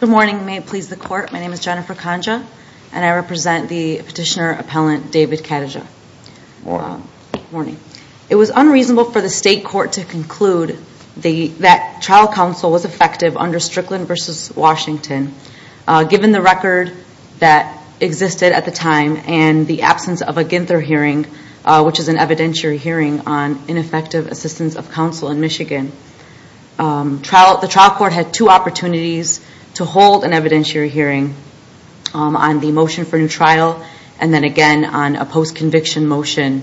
Good morning, may it please the court, my name is Jennifer Kanja and I represent the petitioner-appellant David Kataja. It was unreasonable for the state court to conclude that trial counsel was effective under Strickland v. Washington. Given the record that existed at the time and the absence of a Ginther hearing, which is an evidentiary hearing on ineffective assistance of counsel in Michigan, the trial court had two opportunities to hold an evidentiary hearing on the motion for new trial and then again on a post-conviction motion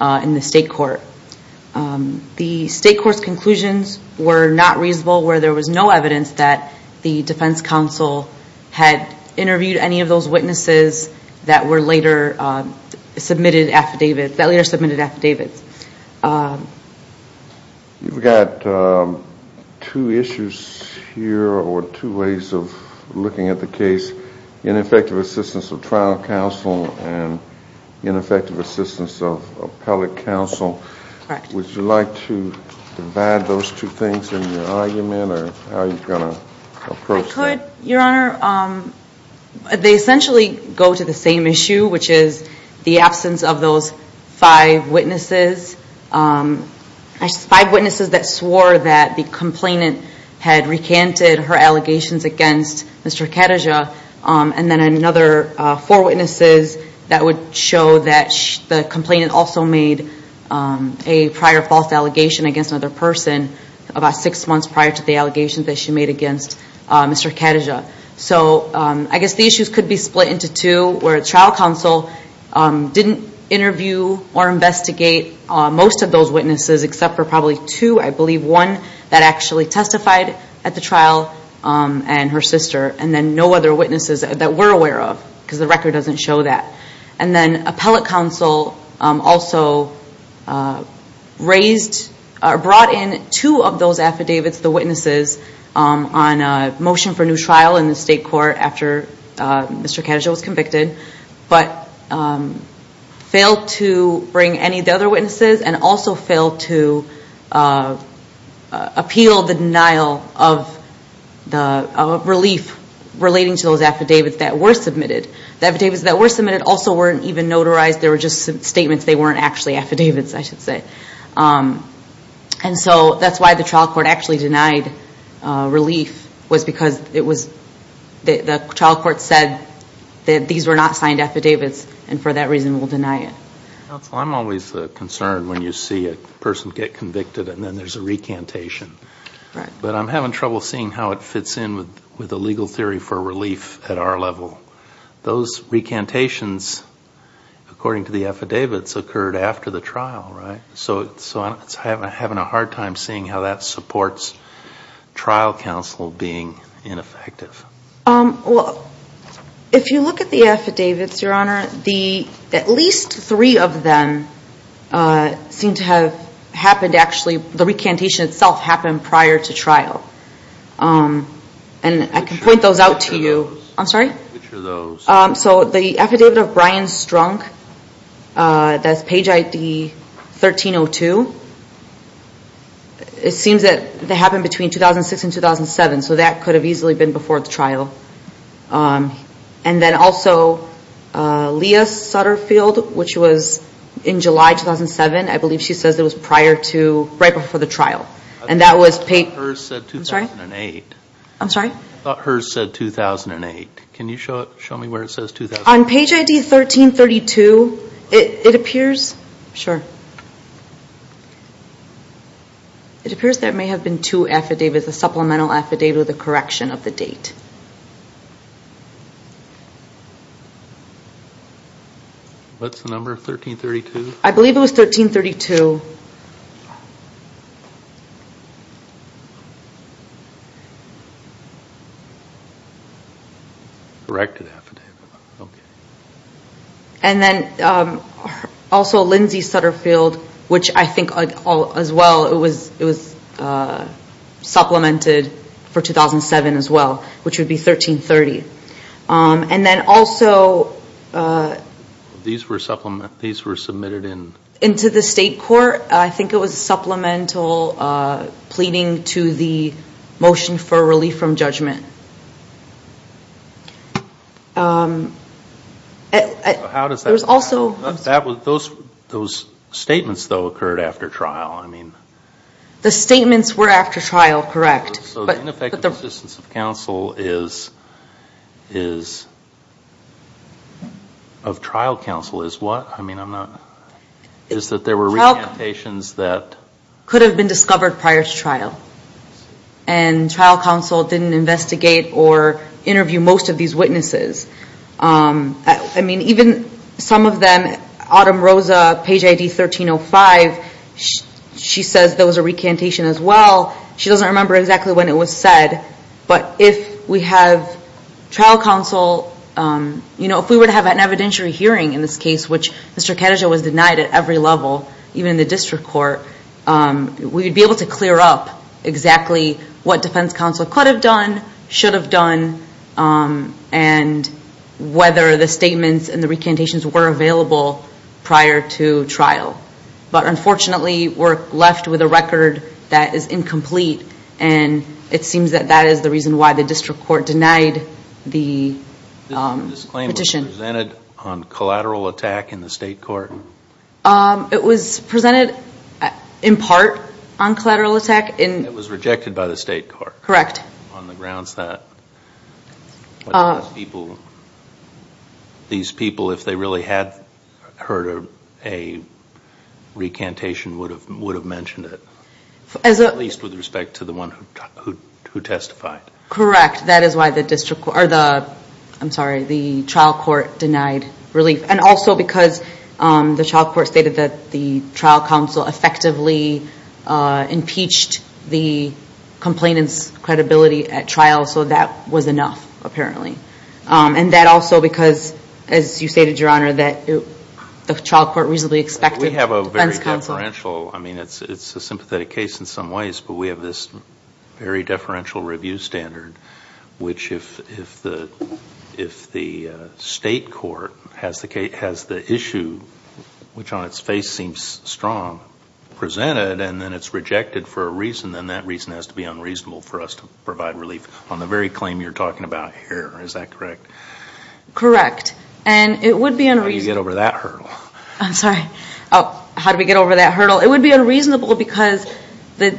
in the state court. The state court's conclusions were not reasonable where there was no evidence that the defense counsel had interviewed any of those witnesses that were later submitted affidavits. You've got two issues here or two ways of looking at the case. Ineffective assistance of trial counsel and ineffective assistance of appellate counsel. Would you like to divide those two things in your argument or how are you going to approach it? I could, your honor. They essentially go to the same issue, which is the absence of those five witnesses. Five witnesses that swore that the complainant had recanted her allegations against Mr. Kataja and then another four witnesses that would show that the complainant also made a prior false allegation against another person about six months prior to the allegations that she made against Mr. Kataja. I guess the issues could be split into two where trial counsel didn't interview or investigate most of those witnesses except for probably two, I believe one that actually testified at the trial and her sister and then no other witnesses that we're aware of because the record doesn't show that. Then appellate counsel also brought in two of those affidavits, the witnesses on a motion for new trial in the state court after Mr. Kataja was convicted, but failed to bring any of the other witnesses and also failed to appeal the denial of the relief relating to those affidavits that were submitted. The affidavits that were submitted also weren't even notarized, they were just statements, they weren't actually affidavits, I should say. And so that's why the trial court actually denied relief was because the trial court said that these were not signed affidavits and for that reason will deny it. Counsel, I'm always concerned when you see a person get convicted and then there's a recantation, but I'm having trouble seeing how it fits in with the legal theory for relief at our level. Those recantations, according to the affidavits, occurred after the trial, right? So I'm having a hard time seeing how that supports trial counsel being ineffective. Well, if you look at the affidavits, Your Honor, at least three of them seem to have happened actually, the recantation itself happened prior to trial. And I can point those out to you, I'm sorry? Which are those? So the affidavit of Brian Strunk, that's page ID 1302, it seems that they happened between 2006 and 2007, so that could have easily been before the trial. And then also Leah Sutterfield, which was in July 2007, I believe she says it was prior to, right before the trial. And that was... I thought hers said 2008. I'm sorry? I thought hers said 2008. Can you show me where it says 2008? On page ID 1332, it appears, sure. It appears there may have been two affidavits, a supplemental affidavit with a correction of the date. What's the number? 1332? I believe it was 1332. Corrected affidavit, okay. And then also Lindsay Sutterfield, which I think as well, it was supplemented for 2007 as well, which would be 1330. And then also... These were submitted in... Into the state court. I think it was supplemental pleading to the motion for relief from judgment. How does that... There's also... Those statements, though, occurred after trial, I mean... The statements were after trial, correct. So the ineffectiveness of trial counsel is what? I mean, I'm not... Is that there were recantations that... Could have been discovered prior to trial. And trial counsel didn't investigate or interview most of these witnesses. I mean, even some of them, Autumn Rosa, page ID 1305, she says there was a recantation as well. She doesn't remember exactly when it was said, but if we have trial counsel... If we were to have an evidentiary hearing in this case, which Mr. Kataja was denied at every level, even in the district court, we would be able to clear up exactly what defense counsel could have done, should have done, and whether the statements and the recantations were available prior to trial. But unfortunately, we're left with a record that is incomplete, and it seems that that is the reason why the district court denied the petition. This claim was presented on collateral attack in the state court? It was presented, in part, on collateral attack in... It was rejected by the state court. Correct. On the grounds that these people, if they really had heard a recantation, would have mentioned it, at least with respect to the one who testified. Correct. That is why the district... Or the... I'm sorry, the trial court denied relief. And also because the trial court stated that the trial counsel effectively impeached the complainant's credibility at trial, so that was enough, apparently. And that also because, as you stated, Your Honor, that the trial court reasonably expected defense counsel... We have a very deferential... I mean, it's a sympathetic case in some ways, but we have this very deferential review standard, which if the state court has the issue, which on its face seems strong, presented, and then it's rejected for a reason, then that reason has to be unreasonable for us to provide relief on the very claim you're talking about here. Is that correct? Correct. And it would be unreasonable... How do you get over that hurdle? I'm sorry. Oh, how do we get over that hurdle? It would be unreasonable because the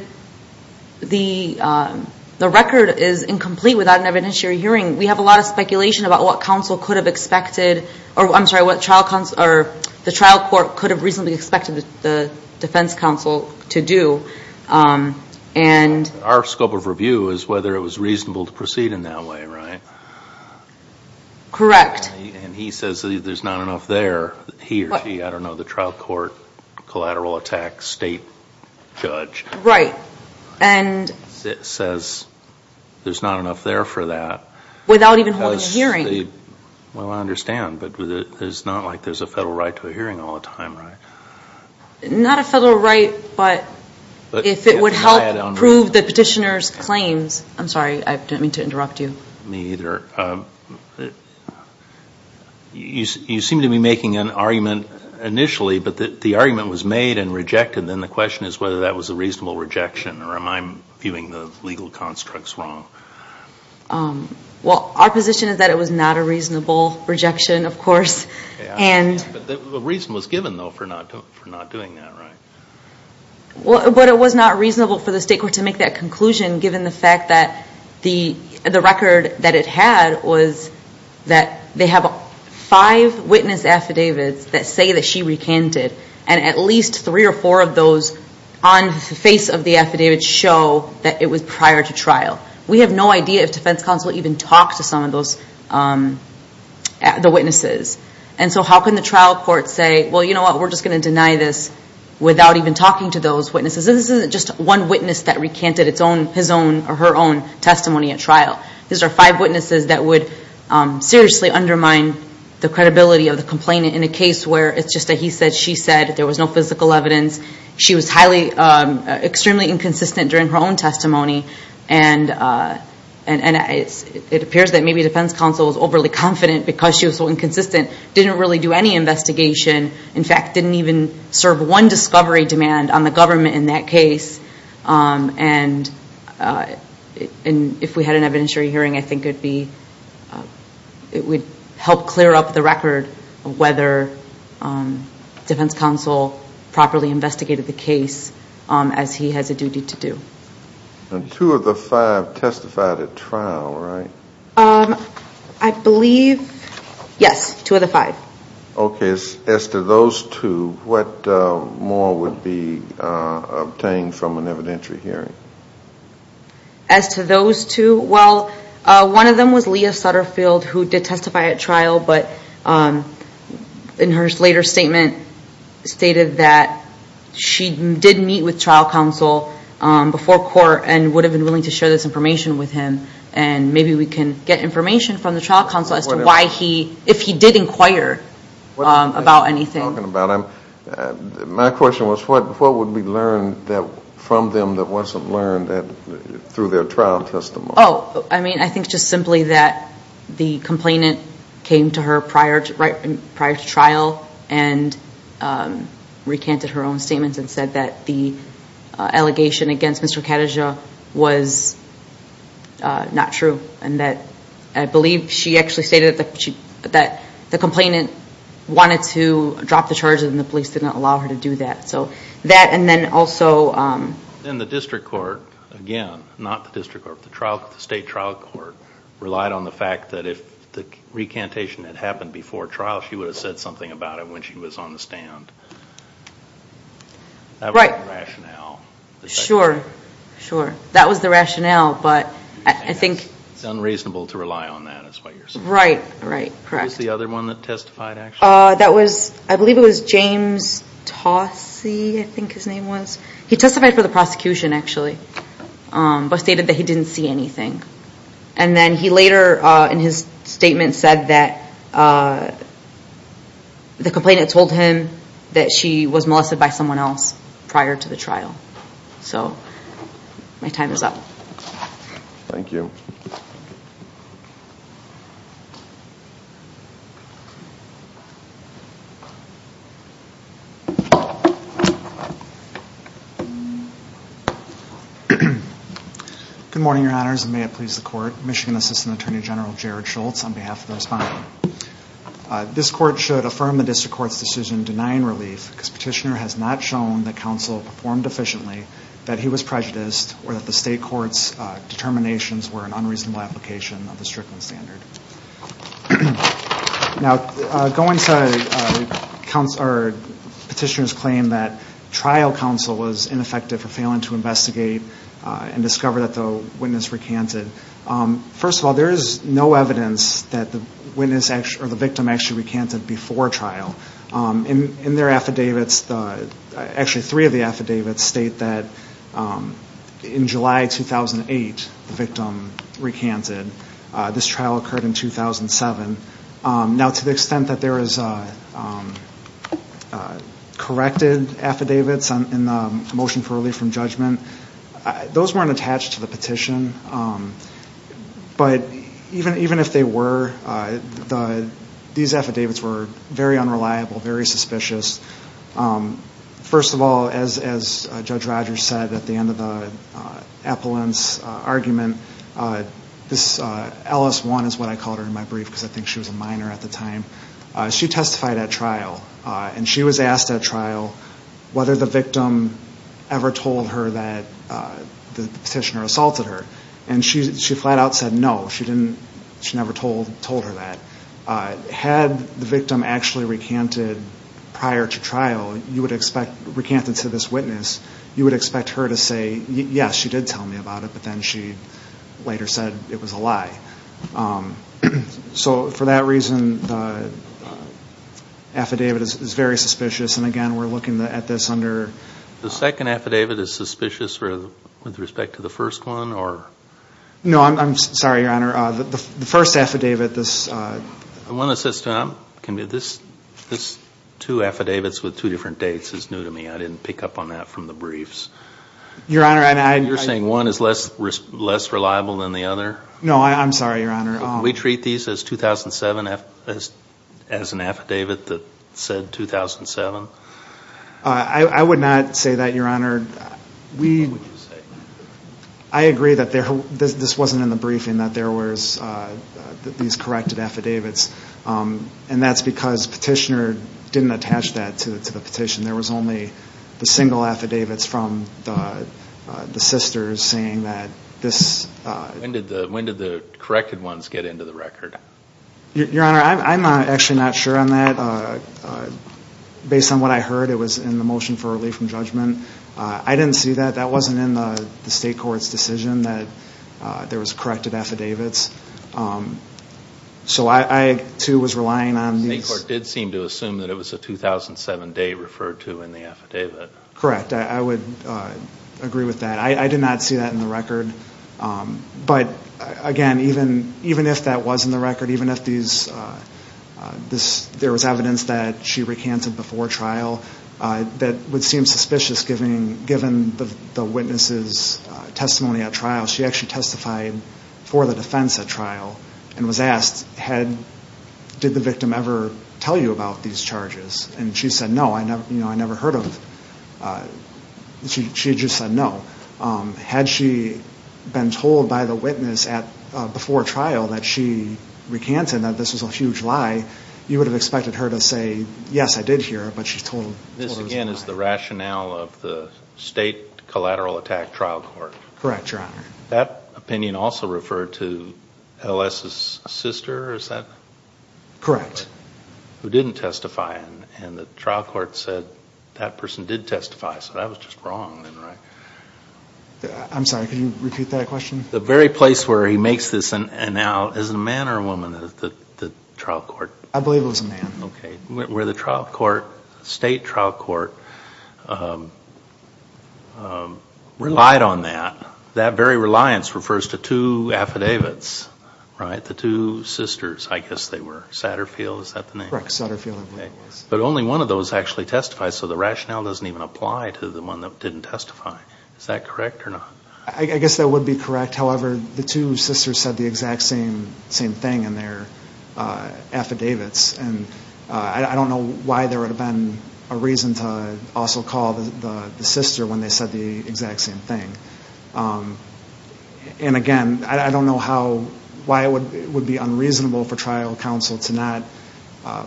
record is incomplete without an evidentiary hearing. We have a lot of speculation about what counsel could have expected, or I'm sorry, what trial counsel, or the trial court could have reasonably expected the defense counsel to do, and... Our scope of review is whether it was reasonable to proceed in that way, right? Correct. And he says there's not enough there, he or she, I don't know, the trial court, collateral attack, state judge, says there's not enough there for that. Without even holding a hearing. Well, I understand, but it's not like there's a federal right to a hearing all the time, right? Not a federal right, but if it would help prove the petitioner's claims... I'm sorry. I didn't mean to interrupt you. Me either. You seem to be making an argument initially, but the argument was made and rejected, then the question is whether that was a reasonable rejection, or am I viewing the legal constructs wrong? Well, our position is that it was not a reasonable rejection, of course, and... The reason was given, though, for not doing that, right? But it was not reasonable for the state court to make that conclusion, given the fact that the record that it had was that they have five witness affidavits that say that she recanted, and at least three or four of those on the face of the affidavit show that it was prior to trial. We have no idea if defense counsel even talked to some of the witnesses, and so how can the trial court say, well, you know what, we're just going to deny this without even talking to those witnesses? This isn't just one witness that recanted his own or her own testimony at trial. These are five witnesses that would seriously undermine the credibility of the complainant in a case where it's just a he said, she said, there was no physical evidence. She was highly, extremely inconsistent during her own testimony, and it appears that maybe defense counsel was overly confident because she was so inconsistent, didn't really do any investigation. In fact, didn't even serve one discovery demand on the government in that case, and if we had an evidentiary hearing, I think it would help clear up the record of whether defense counsel properly investigated the case as he has a duty to do. And two of the five testified at trial, right? I believe, yes, two of the five. Okay, as to those two, what more would be obtained from an evidentiary hearing? As to those two, well, one of them was Leah Sutterfield, who did testify at trial, but in her later statement stated that she did meet with trial counsel before court and would have been willing to share this information with him, and maybe we can get information from the trial counsel as to why he, if he did inquire about anything. My question was, what would be learned from them that wasn't learned through their trial testimony? Oh, I mean, I think just simply that the complainant came to her prior to trial and recanted her own statements and said that the allegation against Mr. Khadijah was not true, and that I believe she actually stated that the complainant wanted to drop the charges and the police did not allow her to do that. So that, and then also... Then the district court, again, not the district court, the state trial court relied on the fact that if the recantation had happened before trial, she would have said something about it when she was on the stand. That was the rationale. Sure, sure. That was the rationale, but I think... It's unreasonable to rely on that, is what you're saying. Right, right, correct. Who was the other one that testified, actually? That was, I believe it was James Tossie, I think his name was. He testified for the prosecution, actually, but stated that he didn't see anything. And then he later, in his statement, said that the complainant told him that she was molested by someone else prior to the trial. So my time is up. Thank you. Good morning, your honors, and may it please the court. Michigan Assistant Attorney General Jared Schultz on behalf of the respondent. This court should affirm the district court's decision denying relief because petitioner has not shown that counsel performed efficiently, that he was prejudiced, or that the state court's determinations were an unreasonable application of the Strickland standard. Now, going to petitioner's claim that trial counsel was ineffective for failing to investigate and discover that the witness recanted, first of all, there is no evidence that the victim actually recanted before trial. In their affidavits, actually three of the affidavits state that in July 2008, the victim recanted. This trial occurred in 2007. Now, to the extent that there is corrected affidavits in the motion for relief from judgment, those weren't attached to the petition. But even if they were, these affidavits were very unreliable, very suspicious. First of all, as Judge Rogers said at the end of the appellant's argument, this Ellis one is what I called her in my brief because I think she was a minor at the time. She testified at trial, and she was asked at trial whether the victim ever told her that the petitioner assaulted her. And she flat out said no, she never told her that. Had the victim actually recanted prior to trial, you would expect, recanted to this witness, you would expect her to say, yes, she did tell me about it, but then she later said it was a lie. So for that reason, the affidavit is very suspicious, and again, we're looking at this under The second affidavit is suspicious with respect to the first one, or No, I'm sorry, Your Honor, the first affidavit, this I want to say something, this two affidavits with two different dates is new to me, I didn't pick up on that from the briefs. Your Honor, I You're saying one is less reliable than the other? No, I'm sorry, Your Honor. We treat these as 2007, as an affidavit that said 2007? I would not say that, Your Honor. I agree that this wasn't in the briefing, that there was these corrected affidavits, and that's because Petitioner didn't attach that to the petition. There was only the single affidavits from the sisters saying that this When did the corrected ones get into the record? Your Honor, I'm actually not sure on that. Based on what I heard, it was in the motion for relief from judgment. I didn't see that. That wasn't in the State Court's decision that there was corrected affidavits. So I, too, was relying on these The State Court did seem to assume that it was a 2007 date referred to in the affidavit. Correct. I would agree with that. I did not see that in the record, but again, even if that was in the record, even if there was evidence that she recanted before trial, that would seem suspicious given the witness's testimony at trial. She actually testified for the defense at trial and was asked, did the victim ever tell you about these charges? And she said, no, I never heard of. She just said, no. Had she been told by the witness before trial that she recanted, that this was a huge lie, you would have expected her to say, yes, I did hear it, but she's told it was a lie. This, again, is the rationale of the State Collateral Attack Trial Court. Correct, Your Honor. That opinion also referred to Ellis's sister, is that? Correct. Who didn't testify, and the trial court said that person did testify, so that was just wrong then, right? I'm sorry, can you repeat that question? The very place where he makes this, and now, is it a man or a woman at the trial court? I believe it was a man. Okay. Where the trial court, State Trial Court, relied on that, that very reliance refers to two affidavits, right? The two sisters, I guess they were, Satterfield, is that the name? Correct, Satterfield. But only one of those actually testified, so the rationale doesn't even apply to the one that didn't testify, is that correct or not? I guess that would be correct, however, the two sisters said the exact same thing in their affidavits, and I don't know why there would have been a reason to also call the sister when they said the exact same thing. And again, I don't know how, why it would be unreasonable for trial counsel to not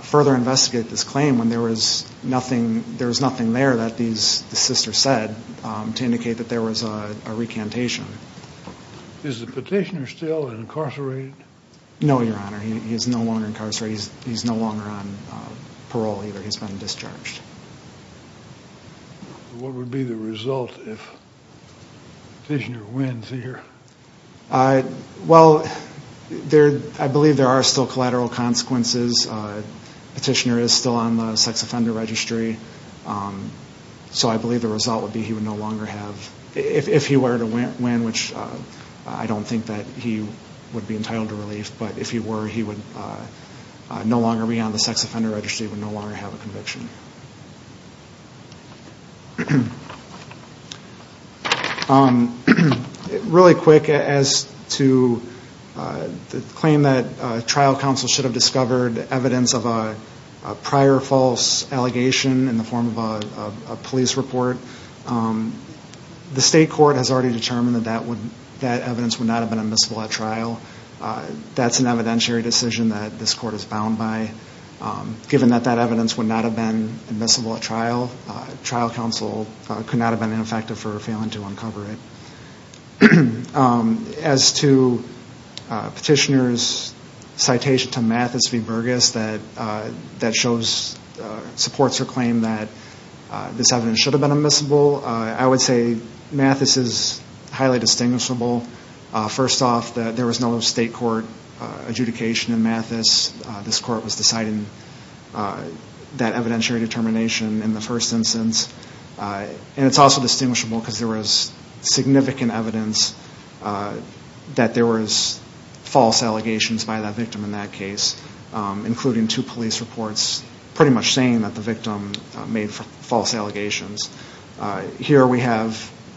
further investigate this claim when there was nothing, there was nothing there that these sisters said to indicate that there was a recantation. Is the petitioner still incarcerated? No, Your Honor, he is no longer incarcerated, he's no longer on parole either, he's been discharged. What would be the result if the petitioner wins here? Well, I believe there are still collateral consequences, the petitioner is still on the sex offender registry, so I believe the result would be he would no longer have, if he were to win, which I don't think that he would be entitled to relief, but if he were, he would no longer be on the sex offender registry, he would no longer have a conviction. Really quick, as to the claim that trial counsel should have discovered evidence of a prior false allegation in the form of a police report, the state court has already determined that that evidence would not have been admissible at trial. That's an evidentiary decision that this court is bound by. Given that that evidence would not have been admissible at trial, trial counsel could not have been ineffective for failing to uncover it. As to petitioner's citation to Mathis v. Burgess that supports her claim that this evidence should have been admissible, I would say Mathis is highly distinguishable. First off, there was no state court adjudication in Mathis, this court was deciding that evidentiary determination in the first instance, and it's also distinguishable because there was significant evidence that there was false allegations by the victim in that case, including two police reports pretty much saying that the victim made false allegations. Here we have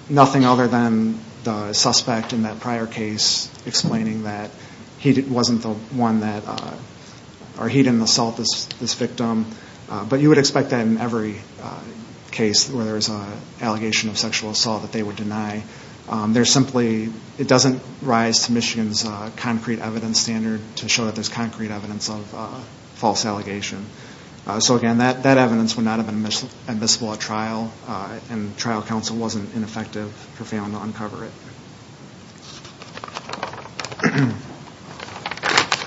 nothing other than the suspect in that prior case explaining that he didn't assault this victim, but you would expect that in every case where there's an allegation of sexual assault that they would deny, there's simply, it doesn't rise to Michigan's concrete evidence standard to show that there's concrete evidence of false allegation. So again, that evidence would not have been admissible at trial and trial counsel wasn't ineffective for failing to uncover it.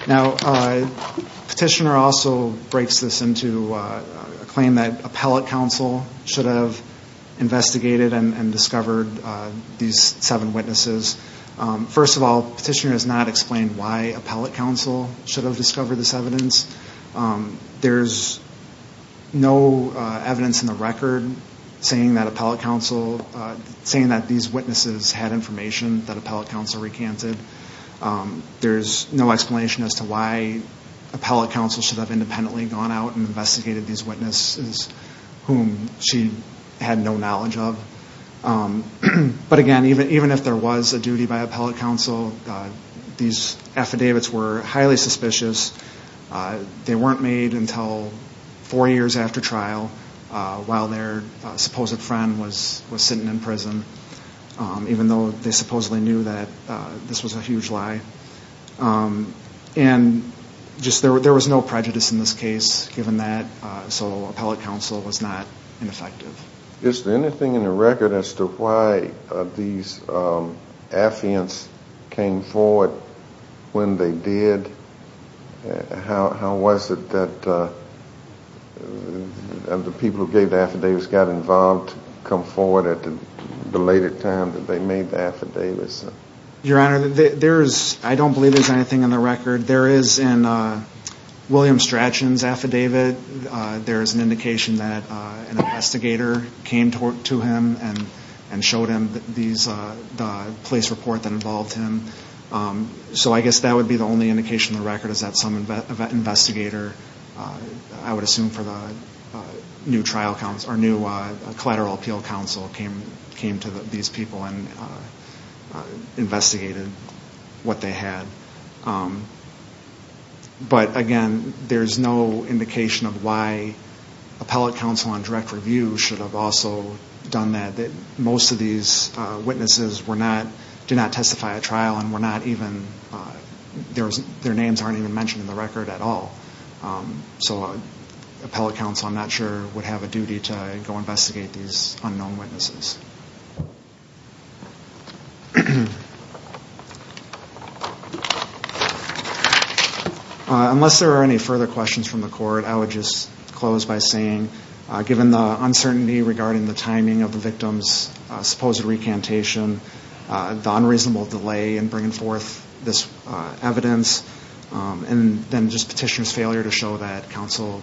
Now petitioner also breaks this into a claim that appellate counsel should have investigated and discovered these seven witnesses. First of all, petitioner has not explained why appellate counsel should have discovered this evidence. There's no evidence in the record saying that appellate counsel, saying that these witnesses had information that appellate counsel recanted. There's no explanation as to why appellate counsel should have independently gone out and investigated these witnesses whom she had no knowledge of. But again, even if there was a duty by appellate counsel, these affidavits were highly suspicious. They weren't made until four years after trial while their supposed friend was sitting in prison even though they supposedly knew that this was a huge lie. And just there was no prejudice in this case given that. So appellate counsel was not ineffective. Is there anything in the record as to why these affiants came forward when they did? How was it that the people who gave the affidavits got involved to come forward at the later time that they made the affidavits? Your Honor, I don't believe there's anything in the record. There is in William Strachan's affidavit, there is an indication that an investigator came to him and showed him the police report that involved him. So I guess that would be the only indication in the record is that some investigator, I believe, came to these people and investigated what they had. But again, there's no indication of why appellate counsel on direct review should have also done that. Most of these witnesses did not testify at trial and were not even, their names aren't even mentioned in the record at all. So appellate counsel, I'm not sure, would have a duty to go investigate these unknown witnesses. Unless there are any further questions from the court, I would just close by saying given the uncertainty regarding the timing of the victim's supposed recantation, the unreasonable delay in bringing forth this evidence, and then just petitioner's failure to show that counsel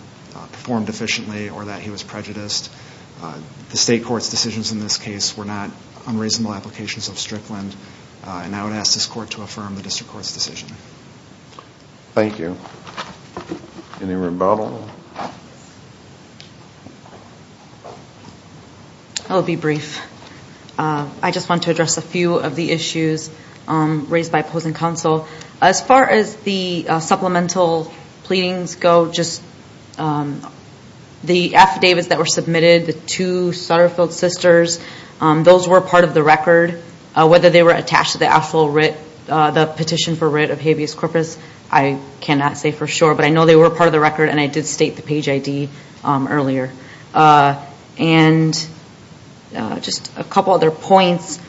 performed efficiently or that he was prejudiced, the state court's decisions in this case were not unreasonable applications of Strickland, and I would ask this court to affirm the district court's decision. Thank you. Any rebuttal? I'll be brief. I just want to address a few of the issues raised by opposing counsel. As far as the supplemental pleadings go, just the affidavits that were submitted, the two Sutterfield sisters, those were part of the record. Whether they were attached to the petition for writ of habeas corpus, I cannot say for sure, but I know they were part of the record and I did state the page ID earlier. Just a couple other points. Do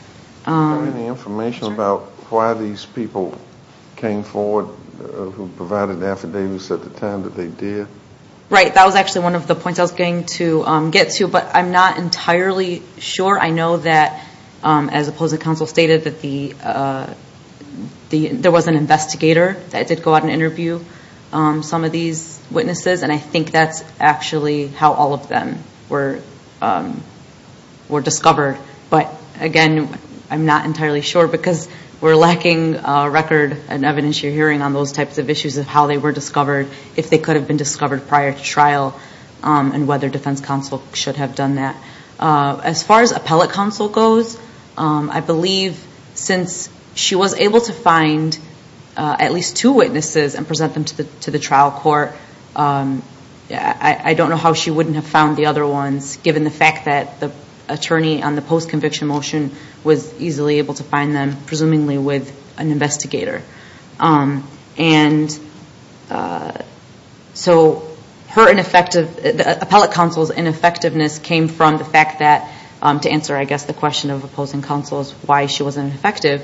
you have any information about why these people came forward who provided the affidavits at the time that they did? Right. That was actually one of the points I was going to get to, but I'm not entirely sure. I know that as opposing counsel stated, there was an investigator that did go out and interview some of these witnesses, and I think that's actually how all of them were discovered. But again, I'm not entirely sure because we're lacking record and evidence you're hearing on those types of issues of how they were discovered, if they could have been discovered prior to trial, and whether defense counsel should have done that. As far as appellate counsel goes, I believe since she was able to find at least two witnesses and present them to the trial court, I don't know how she wouldn't have found the other ones given the fact that the attorney on the post-conviction motion was easily able to find them, presumably with an investigator. So the appellate counsel's ineffectiveness came from the fact that, to answer I guess the question of opposing counsel's why she wasn't effective,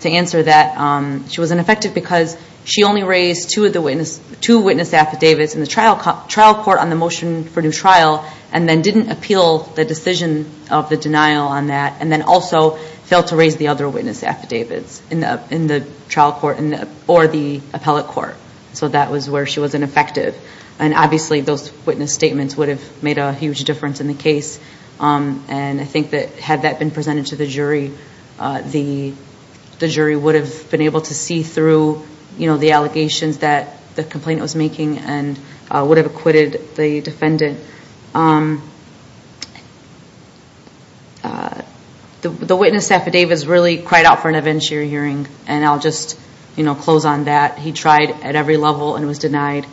to answer that she was ineffective because she only raised two witness affidavits in the trial court on the motion for new trial, and then didn't appeal the decision of the denial on that, and then also failed to raise the other witness affidavits in the trial court or the appellate court. So that was where she was ineffective. And obviously those witness statements would have made a huge difference in the case, and I think that had that been presented to the jury, the jury would have been able to see through the allegations that the complainant was making, and would have acquitted the defendant. The witness affidavits really cried out for an evidentiary hearing, and I'll just close on that. He tried at every level and was denied,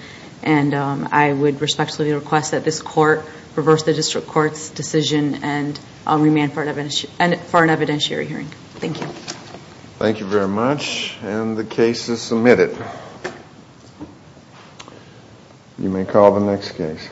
and I would respectfully request that this court reverse the district court's decision and remand for an evidentiary hearing. Thank you. Thank you very much, and the case is submitted. You may call the next case.